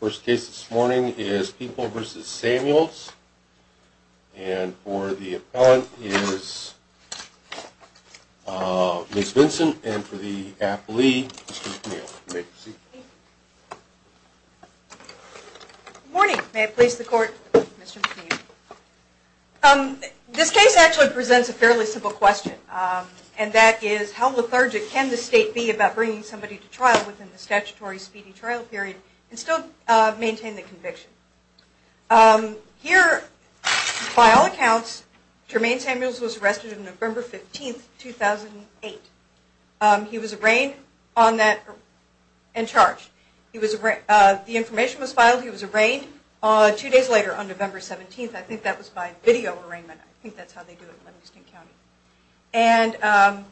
First case this morning is People v. Samuels, and for the appellant is Ms. Vincent and for the athlete Mr. McNeil. Good morning. May it please the Court, Mr. McNeil. This case actually presents a fairly simple question, and that is how lethargic can the state be about bringing somebody to trial within the statutory speedy trial period and still maintain the conviction. Here, by all accounts, Jermaine Samuels was arrested on November 15, 2008. He was arraigned and charged. The information was filed. He was arraigned two days later on November 17. I think that was by video arraignment. I think that's how they do it in Livingston County. And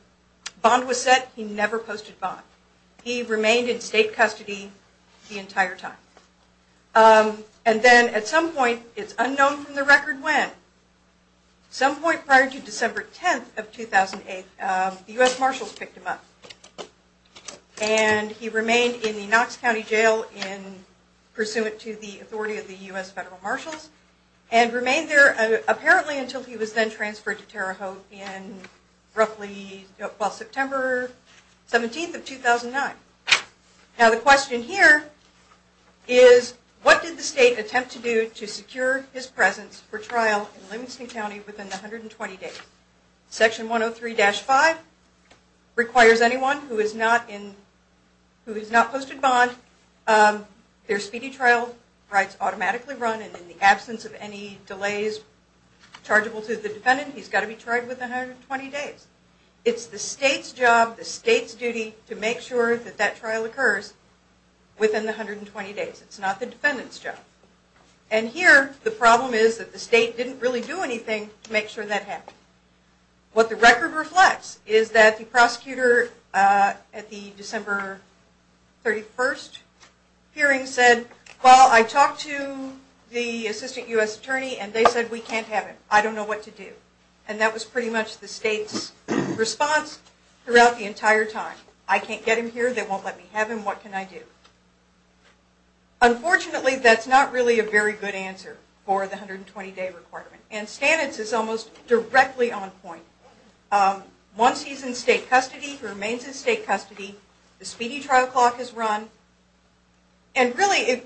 bond was set. He never posted bond. He remained in state custody the entire time. And then at some point, it's unknown from the record when, some point prior to December 10th of 2008, the U.S. Marshals picked him up. And he remained in the Knox County Jail pursuant to the authority of the U.S. Federal Marshals and remained there apparently until he was then transferred to Terre Haute on September 17, 2009. Now the question here is what did the state attempt to do to secure his presence for trial in Livingston County within 120 days? Section 103-5 requires anyone who has not posted bond, their speedy trial rights automatically run and in the absence of any delays chargeable to the defendant, he's got to be tried within 120 days. It's the state's job, the state's duty to make sure that that trial occurs within the 120 days. It's not the defendant's job. And here the problem is that the state didn't really do anything to make sure that happened. What the record reflects is that the prosecutor at the December 31st hearing said, well, I talked to the assistant U.S. attorney and they said we can't have him. I don't know what to do. And that was pretty much the state's response throughout the entire time. I can't get him here. They won't let me have him. What can I do? Unfortunately, that's not really a very good answer for the 120-day requirement. And Stanitz is almost directly on point. Once he's in state custody, he remains in state custody, the speedy trial clock is run, and really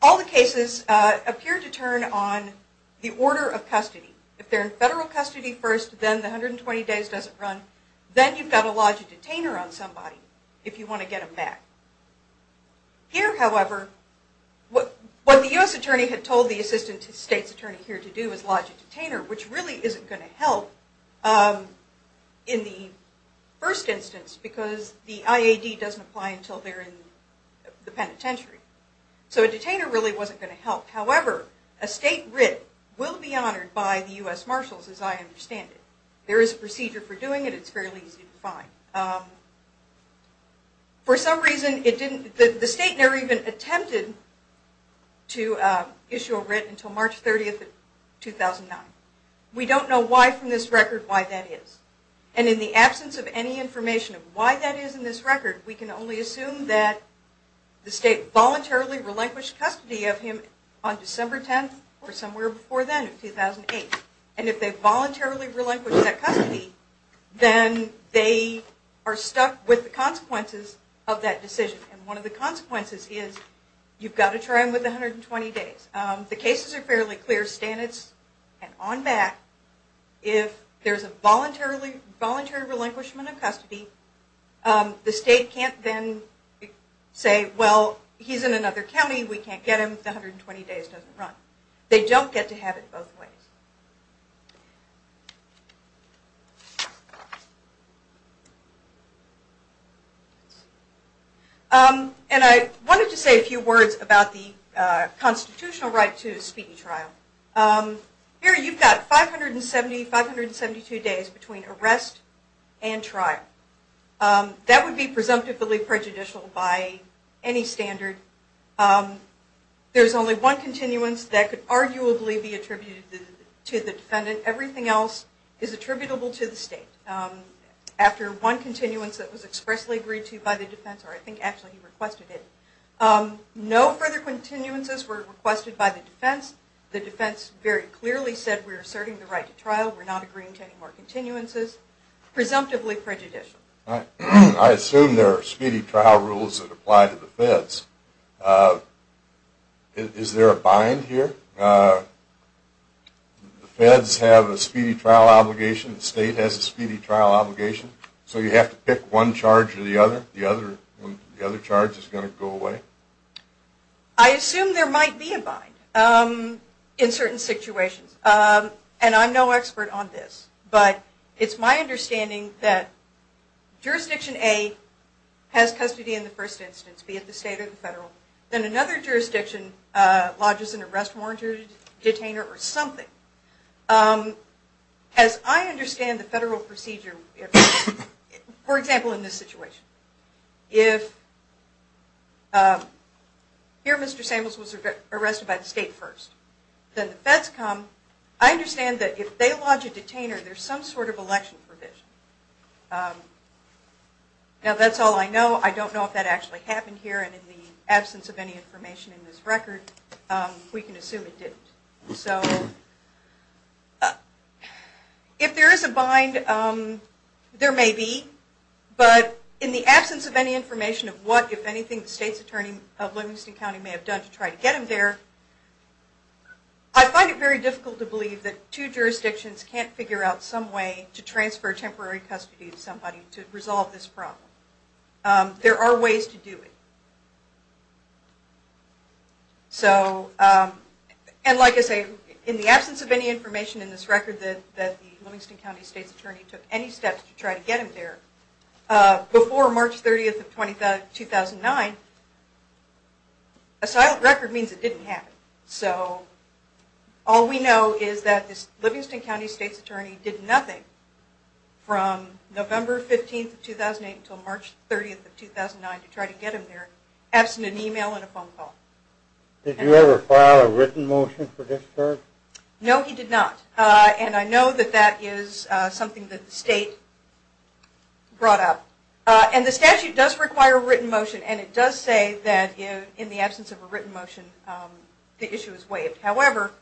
all the cases appear to turn on the order of custody. If they're in federal custody first, then the 120 days doesn't run, then you've got to lodge a detainer on somebody if you want to get him back. Here, however, what the U.S. attorney had told the assistant state's attorney here to do was lodge a detainer, which really isn't going to help in the first instance because the IAD doesn't apply until they're in the penitentiary. So a detainer really wasn't going to help. However, a state writ will be honored by the U.S. Marshals, as I understand it. There is a procedure for doing it. It's fairly easy to find. For some reason, the state never even attempted to issue a writ until March 30, 2009. We don't know why from this record why that is. And in the absence of any information of why that is in this record, we can only assume that the state voluntarily relinquished custody of him on December 10, or somewhere before then, in 2008. And if they voluntarily relinquish that custody, then they are stuck with the consequences of that decision. And one of the consequences is you've got to try him with 120 days. The cases are fairly clear, standards and on back. If there's a voluntary relinquishment of custody, the state can't then say, well, he's in another county, we can't get him, the 120 days doesn't run. They don't get to have it both ways. And I wanted to say a few words about the constitutional right to a speedy trial. Here you've got 570, 572 days between arrest and trial. That would be presumptively prejudicial by any standard. There's only one continuance that could arguably be attributed to the defendant. Everything else is attributable to the state. After one continuance that was expressly agreed to by the defense, or I think actually he requested it, no further continuances were requested by the defense. The defense very clearly said we're asserting the right to trial, we're not agreeing to any more continuances. Presumptively prejudicial. I assume there are speedy trial rules that apply to the feds. Is there a bind here? The feds have a speedy trial obligation, the state has a speedy trial obligation, so you have to pick one charge or the other? The other charge is going to go away? I assume there might be a bind in certain situations. And I'm no expert on this. But it's my understanding that jurisdiction A has custody in the first instance, be it the state or the federal. Then another jurisdiction lodges an arrest warrant or a detainer or something. As I understand the federal procedure, for example, in this situation, if here Mr. Samuels was arrested by the state first, then the feds come. I understand that if they lodge a detainer, there's some sort of election provision. Now that's all I know. I don't know if that actually happened here. And in the absence of any information in this record, we can assume it didn't. So if there is a bind, there may be. But in the absence of any information of what, if anything, the state's attorney of Livingston County may have done to try to get him there, I find it very difficult to believe that two jurisdictions can't figure out some way to transfer temporary custody to somebody to resolve this problem. There are ways to do it. And like I say, in the absence of any information in this record that the Livingston County state's attorney took any steps to try to get him there, before March 30th of 2009, a silent record means it didn't happen. So all we know is that this Livingston County state's attorney did nothing from November 15th of 2008 until March 30th of 2009 to try to get him there, absent an email and a phone call. Did you ever file a written motion for this charge? No, he did not. And I know that that is something that the state brought up. And the statute does require a written motion. And it does say that in the absence of a written motion, the issue is waived. However,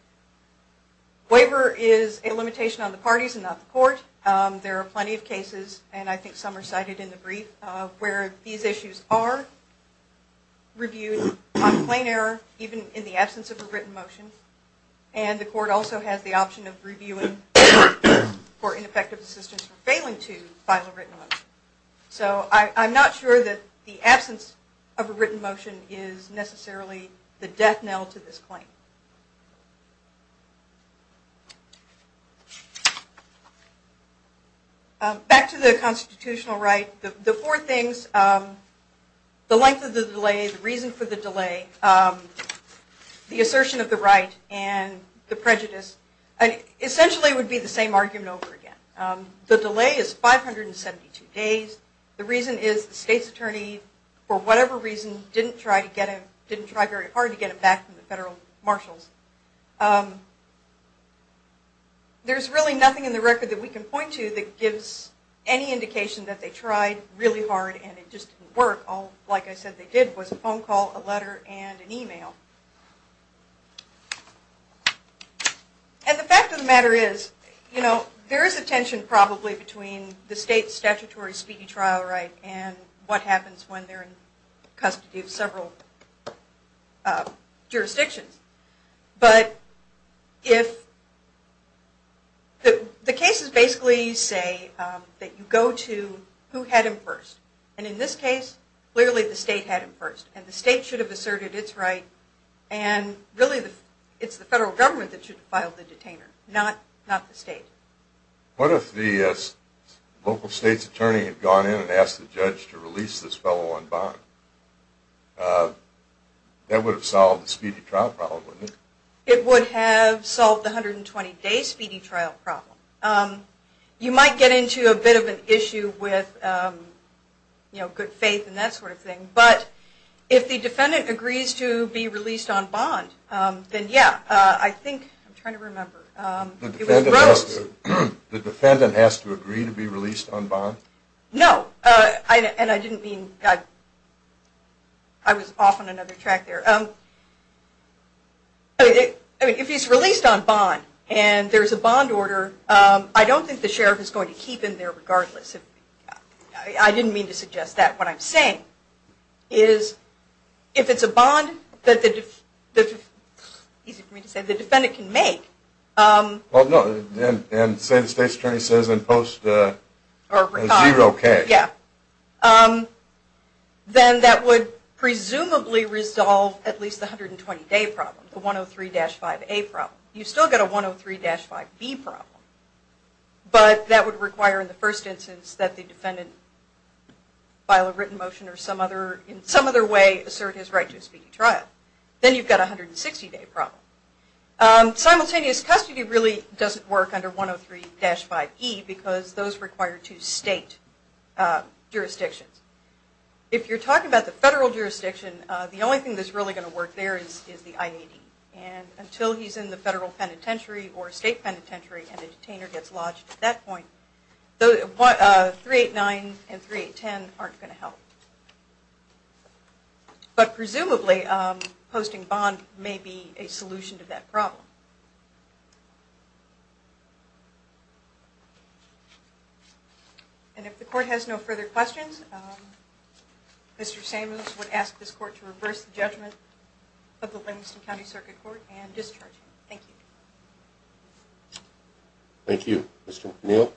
waiver is a limitation on the parties and not the court. There are plenty of cases, and I think some are cited in the brief, where these issues are reviewed on plain error, even in the absence of a written motion. And the court also has the option of reviewing for ineffective assistance for failing to file a written motion. So I'm not sure that the absence of a written motion is necessarily the death knell to this claim. Back to the constitutional right. The four things, the length of the delay, the reason for the delay, the assertion of the right, and the prejudice. Essentially it would be the same argument over again. The delay is 572 days. The reason is the state's attorney, for whatever reason, didn't try very hard to get him back from the federal marshals. There's really nothing in the record that we can point to that gives any indication that they tried really hard and it just didn't work. All, like I said, they did was a phone call, a letter, and an email. And the fact of the matter is, there is a tension probably between the state's statutory speedy trial right and what happens when they're in custody of several jurisdictions. The cases basically say that you go to who had him first. And in this case, clearly the state had him first. And the state should have asserted its right. And really it's the federal government that should have filed the detainer, not the state. What if the local state's attorney had gone in and asked the judge to release this fellow on bond? That would have solved the speedy trial problem, wouldn't it? It would have solved the 120-day speedy trial problem. You might get into a bit of an issue with good faith and that sort of thing. But if the defendant agrees to be released on bond, then yeah, I think, I'm trying to remember. The defendant has to agree to be released on bond? No. And I didn't mean, I was off on another track there. I mean, if he's released on bond and there's a bond order, I don't think the sheriff is going to keep him there regardless. I didn't mean to suggest that. What I'm saying is if it's a bond that the defendant can make. Well, no. And say the state's attorney says in post zero case. Yeah. Then that would presumably resolve at least the 120-day problem. The 103-5A problem. You've still got a 103-5B problem. But that would require in the first instance that the defendant file a written motion or in some other way assert his right to a speedy trial. Then you've got a 160-day problem. Simultaneous custody really doesn't work under 103-5E because those require two state jurisdictions. If you're talking about the federal jurisdiction, the only thing that's really going to work there is the IAD. And until he's in the federal penitentiary or state penitentiary and a detainer gets lodged at that point, 389 and 3810 aren't going to help. But presumably posting bond may be a solution to that problem. And if the court has no further questions, Mr. Samuels would ask this court to reverse the judgment of the Livingston County Circuit Court and discharge him. Thank you. Thank you, Mr. O'Neill.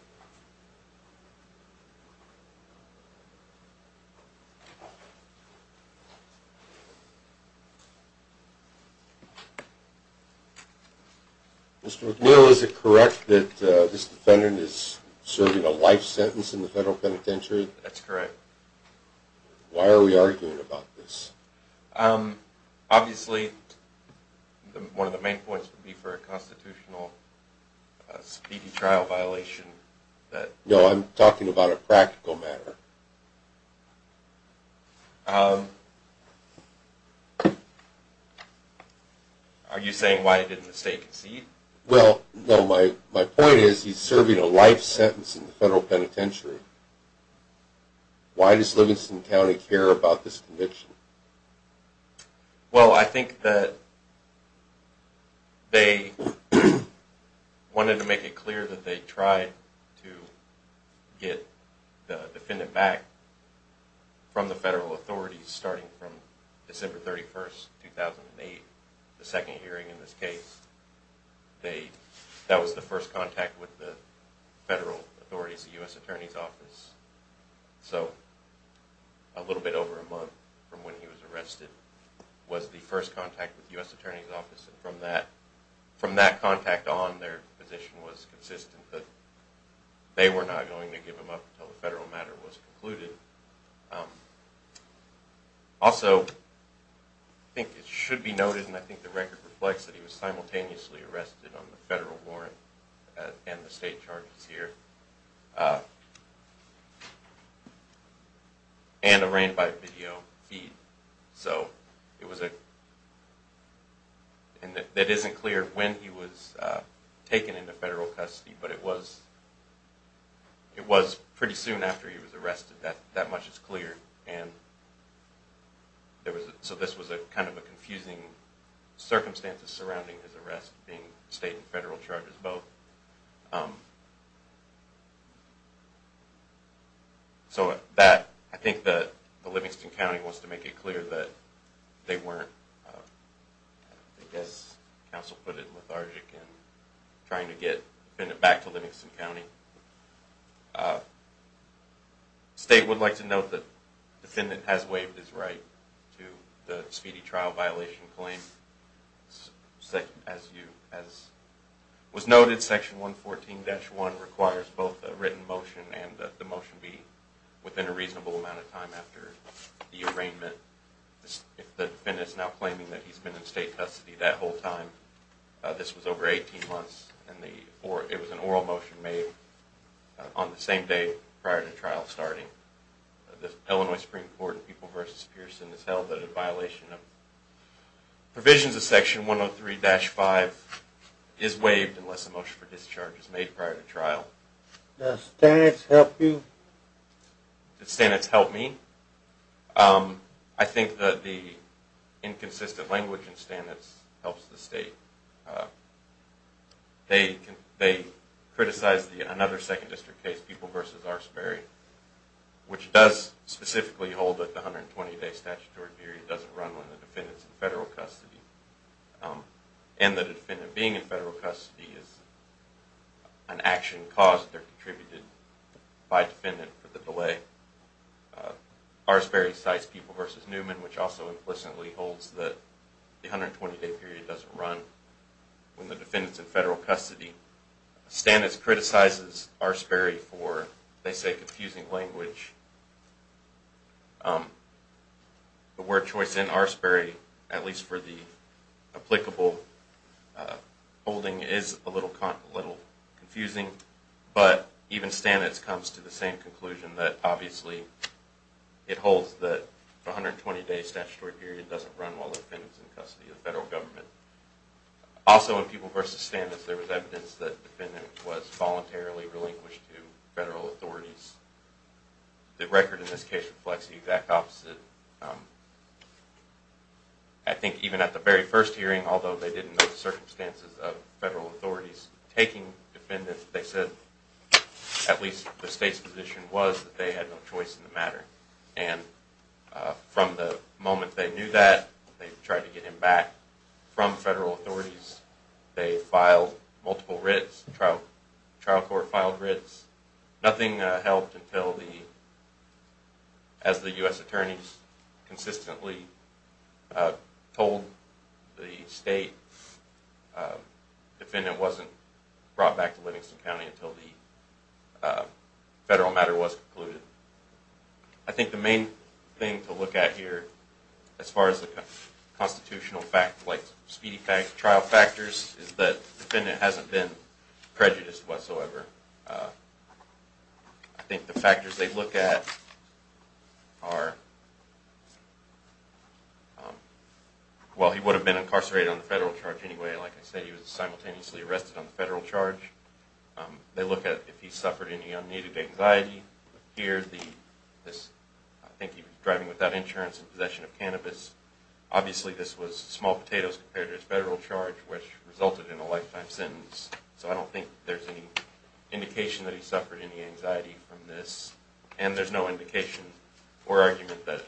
Mr. O'Neill, is it correct that this defendant is serving a life sentence in the federal penitentiary? That's correct. Why are we arguing about this? Obviously, one of the main points would be for a constitutional speedy trial violation. No, I'm talking about a practical matter. Are you saying why didn't the state concede? Well, no, my point is he's serving a life sentence in the federal penitentiary. Why does Livingston County care about this conviction? Well, I think that they wanted to make it clear that they tried to get the defendant released. From the federal authorities, starting from December 31, 2008, the second hearing in this case, that was the first contact with the federal authorities, the U.S. Attorney's Office. So a little bit over a month from when he was arrested was the first contact with the U.S. Attorney's Office. From that contact on, their position was consistent that they were not going to give him up until the federal matter was concluded. Also, I think it should be noted, and I think the record reflects that he was simultaneously arrested on the federal warrant and the state charges here, and arraigned by video feed. So it wasn't clear when he was taken into federal custody, but it was pretty soon after he was arrested. That much is clear. So this was kind of a confusing circumstance surrounding his arrest, state and federal charges both. So I think the Livingston County wants to make it clear that they weren't, as counsel put it, lethargic in trying to get the defendant back to Livingston County. The state would like to note that the defendant has waived his right to the speedy trial violation claim, as was noted, Section 114-1 requires both a written motion and the motion be within a reasonable amount of time after the arraignment. If the defendant is now claiming that he's been in state custody that whole time, this was over 18 months, and it was an oral motion made on the same day prior to trial starting. The Illinois Supreme Court in People v. Pearson has held that a violation of provisions of Section 103-5 is waived unless a motion for discharge is made prior to trial. Does Stannis help you? Does Stannis help me? I think that the inconsistent language in Stannis helps the state. They criticize another Second District case, People v. R. Sperry, which does specifically hold that the 120-day statutory period doesn't run when the defendant is in federal custody, and the defendant being in federal custody is an action caused or contributed by the defendant for the delay. R. Sperry cites People v. Newman, which also implicitly holds that the 120-day period doesn't run when the defendant is in federal custody. Stannis criticizes R. Sperry for, they say, confusing language. The word choice in R. Sperry, at least for the applicable holding, is a little confusing, but even Stannis comes to the same conclusion that, obviously, it holds that the 120-day statutory period doesn't run while the defendant is in federal custody. Also, in People v. Stannis, there was evidence that the defendant was voluntarily relinquished to federal authorities. The record in this case reflects the exact opposite. I think even at the very first hearing, although they didn't know the circumstances of federal authorities taking defendants, they said at least the state's position was that they had no choice in the matter. And from the moment they knew that, they tried to get him back from federal authorities. They filed multiple writs. The trial court filed writs. Nothing helped until, as the U.S. attorneys consistently told the state, the defendant wasn't brought back to Livingston County until the federal matter was concluded. I think the main thing to look at here, as far as the constitutional speedy trial factors, is that the defendant hasn't been prejudiced whatsoever. I think the factors they look at are, well, he would have been incarcerated on the federal charge anyway. Like I said, he was simultaneously arrested on the federal charge. They look at if he suffered any unneeded anxiety. Here, I think he was driving without insurance in possession of cannabis. Obviously, this was small potatoes compared to his federal charge, which resulted in a lifetime sentence. So I don't think there's any indication that he suffered any anxiety from this. And there's no indication or argument that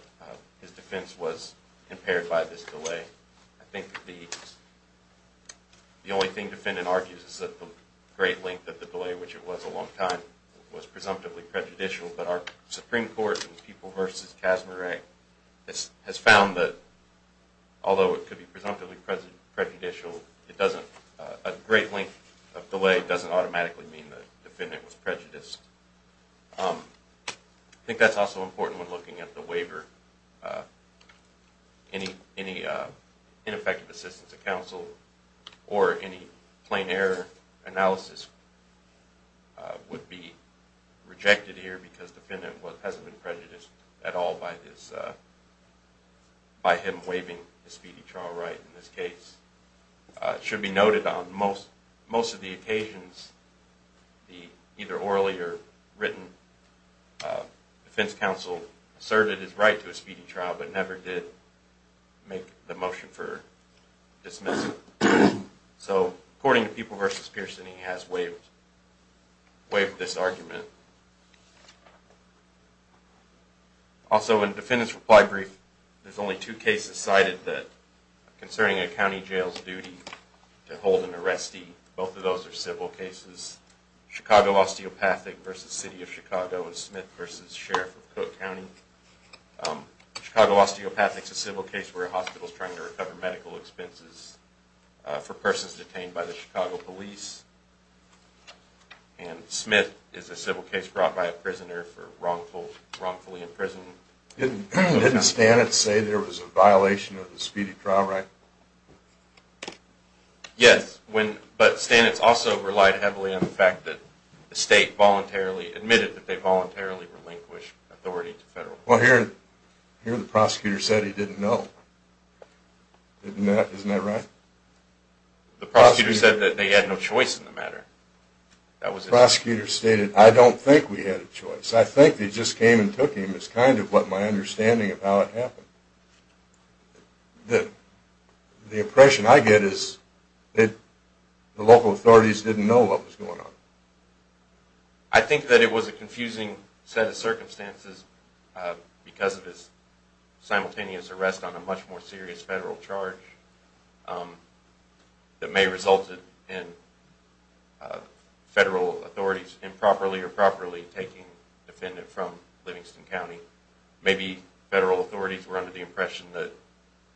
his defense was impaired by this delay. I think the only thing the defendant argues is that the great length of the delay, which it was a long time, was presumptively prejudicial. But our Supreme Court in the People v. Kastner Act has found that although it could be presumptively prejudicial, a great length of delay doesn't automatically mean the defendant was prejudiced. I think that's also important when looking at the waiver. Any ineffective assistance of counsel or any plain error analysis would be rejected here because the defendant hasn't been prejudiced at all by him waiving his speedy trial right in this case. It should be noted on most of the occasions, the either orally or written defense counsel asserted his right to a speedy trial, but never did make the motion for dismissal. So, according to People v. Pearson, he has waived this argument. Also, in the defendant's reply brief, there's only two cases cited concerning a county jail's duty to hold an arrestee. Both of those are civil cases. Chicago Osteopathic v. City of Chicago and Smith v. Sheriff of Cook County. Chicago Osteopathic is a civil case where a hospital is trying to recover medical expenses for persons detained by the Chicago police. And Smith is a civil case brought by a prisoner for wrongfully imprisonment. Didn't Stanitz say there was a violation of the speedy trial right? Yes, but Stanitz also relied heavily on the fact that the state voluntarily admitted that they voluntarily relinquished authority to federal courts. Well, here the prosecutor said he didn't know. Isn't that right? The prosecutor said that they had no choice in the matter. The prosecutor stated, I don't think we had a choice. I think they just came and took him is kind of what my understanding of how it happened. The impression I get is that the local authorities didn't know what was going on. I think that it was a confusing set of circumstances because of his simultaneous arrest on a much more serious federal charge that may have resulted in federal authorities improperly or properly taking the defendant from Livingston County. Maybe federal authorities were under the impression that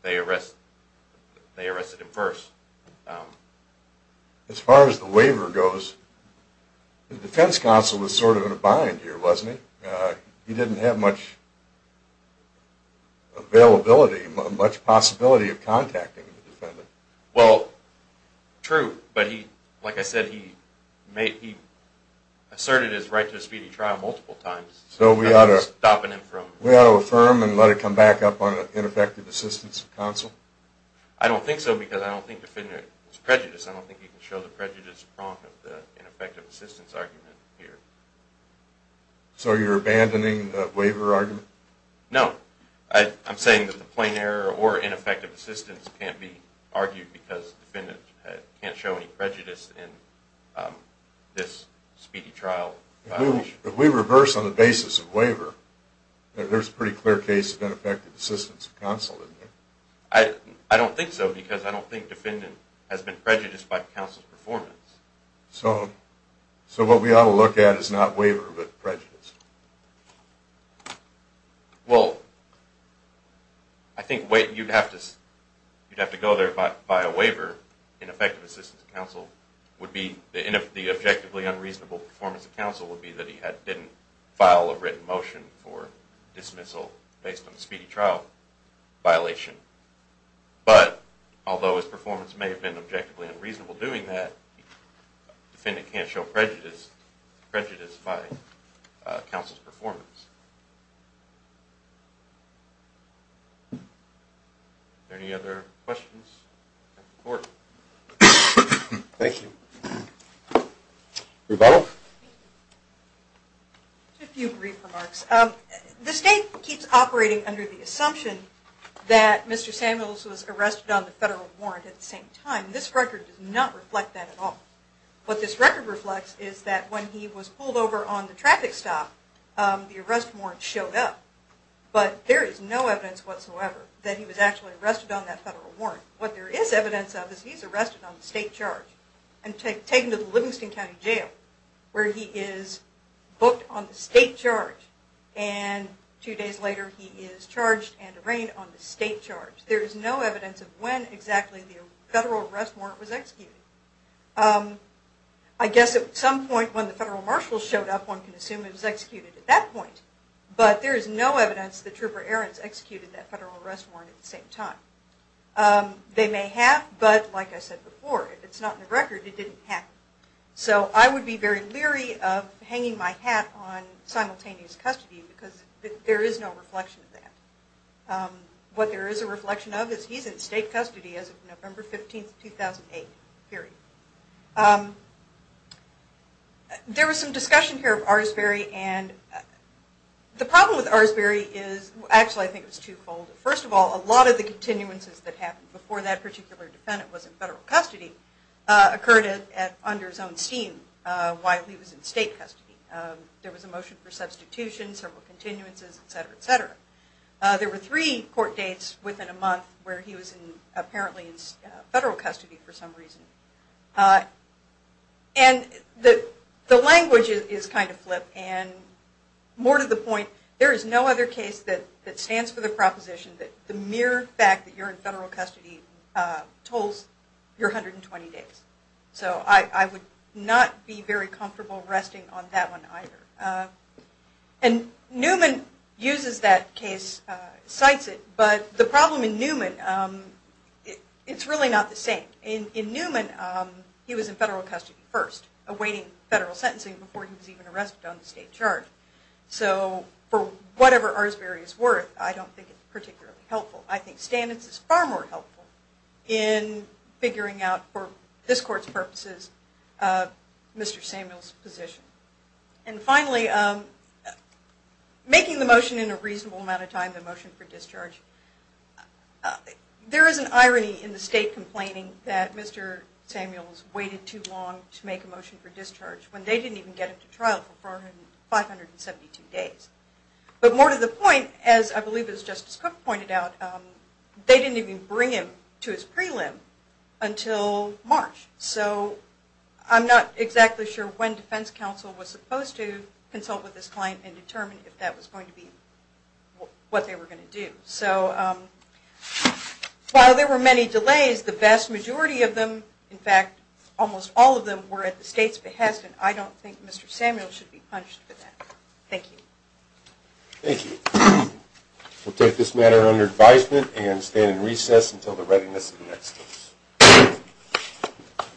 they arrested him first. As far as the waiver goes, the defense counsel was sort of in a bind here wasn't he? He didn't have much availability, much possibility of contacting the defendant. Well, true, but like I said he asserted his right to a speedy trial multiple times. So we ought to affirm and let it come back up on an ineffective assistance counsel? I don't think so because I don't think the defendant was prejudiced. I don't think you can show the prejudice prong of the ineffective assistance argument here. So you're abandoning the waiver argument? No. I'm saying that the plain error or ineffective assistance can't be argued because the defendant can't show any prejudice in this speedy trial. If we reverse on the basis of waiver, there's a pretty clear case of ineffective assistance counsel isn't there? I don't think so because I don't think the defendant has been prejudiced by counsel's performance. So what we ought to look at is not waiver but prejudice? Well, I think you'd have to go there by a waiver. Ineffective assistance counsel would be, the objectively unreasonable performance of counsel would be that he didn't file a written motion for dismissal based on the speedy trial violation. But although his performance may have been objectively unreasonable doing that, the defendant can't show prejudice by counsel's performance. Are there any other questions? Thank you. Rebuttal? Just a few brief remarks. The state keeps operating under the assumption that Mr. Samuels was arrested on the federal warrant at the same time. This record does not reflect that at all. What this record reflects is that when he was pulled over on the traffic stop, the arrest warrant showed up. But there is no evidence whatsoever that he was actually arrested on that federal warrant. What there is evidence of is he's arrested on the state charge and taken to the Livingston County Jail where he is booked on the state charge. And two days later he is charged and arraigned on the state charge. There is no evidence of when exactly the federal arrest warrant was executed. I guess at some point when the federal marshal showed up one can assume it was executed at that point. But there is no evidence that Trooper Ahrens executed that federal arrest warrant at the same time. They may have, but like I said before, if it's not in the record, it didn't happen. So I would be very leery of hanging my hat on simultaneous custody because there is no reflection of that. What there is a reflection of is he's in state custody as of November 15, 2008 period. There was some discussion here of Arsbery. The problem with Arsbery is, actually I think it was too cold. First of all, a lot of the continuances that happened before that particular defendant was in federal custody occurred under his own steam while he was in state custody. There was a motion for substitution, several continuances, etc., etc. There were three court dates within a month where he was apparently in federal custody for some reason. And the language is kind of flipped. And more to the point, there is no other case that stands for the proposition that the mere fact that you're in federal custody tolls your 120 days. So I would not be very comfortable resting on that one either. And Newman uses that case, cites it, but the problem in Newman, it's really not the same. In Newman, he was in federal custody first, awaiting federal sentencing before he was even arrested on the state charge. So for whatever Arsbery is worth, I don't think it's particularly helpful. I think Stamets is far more helpful in figuring out, for this court's purposes, Mr. Samuel's position. And finally, making the motion in a reasonable amount of time, the motion for discharge. There is an irony in the state complaining that Mr. Samuel's waited too long to make a motion for discharge when they didn't even get him to trial for 472 days. But more to the point, as I believe as Justice Cook pointed out, they didn't even bring him to his prelim until March. So I'm not exactly sure when defense counsel was supposed to consult with this client and determine if that was going to be what they were going to do. So while there were many delays, the vast majority of them, in fact almost all of them, were at the state's behest. And I don't think Mr. Samuel should be punished for that. Thank you. Thank you. We'll take this matter under advisement and stand in recess until the readiness of the next case.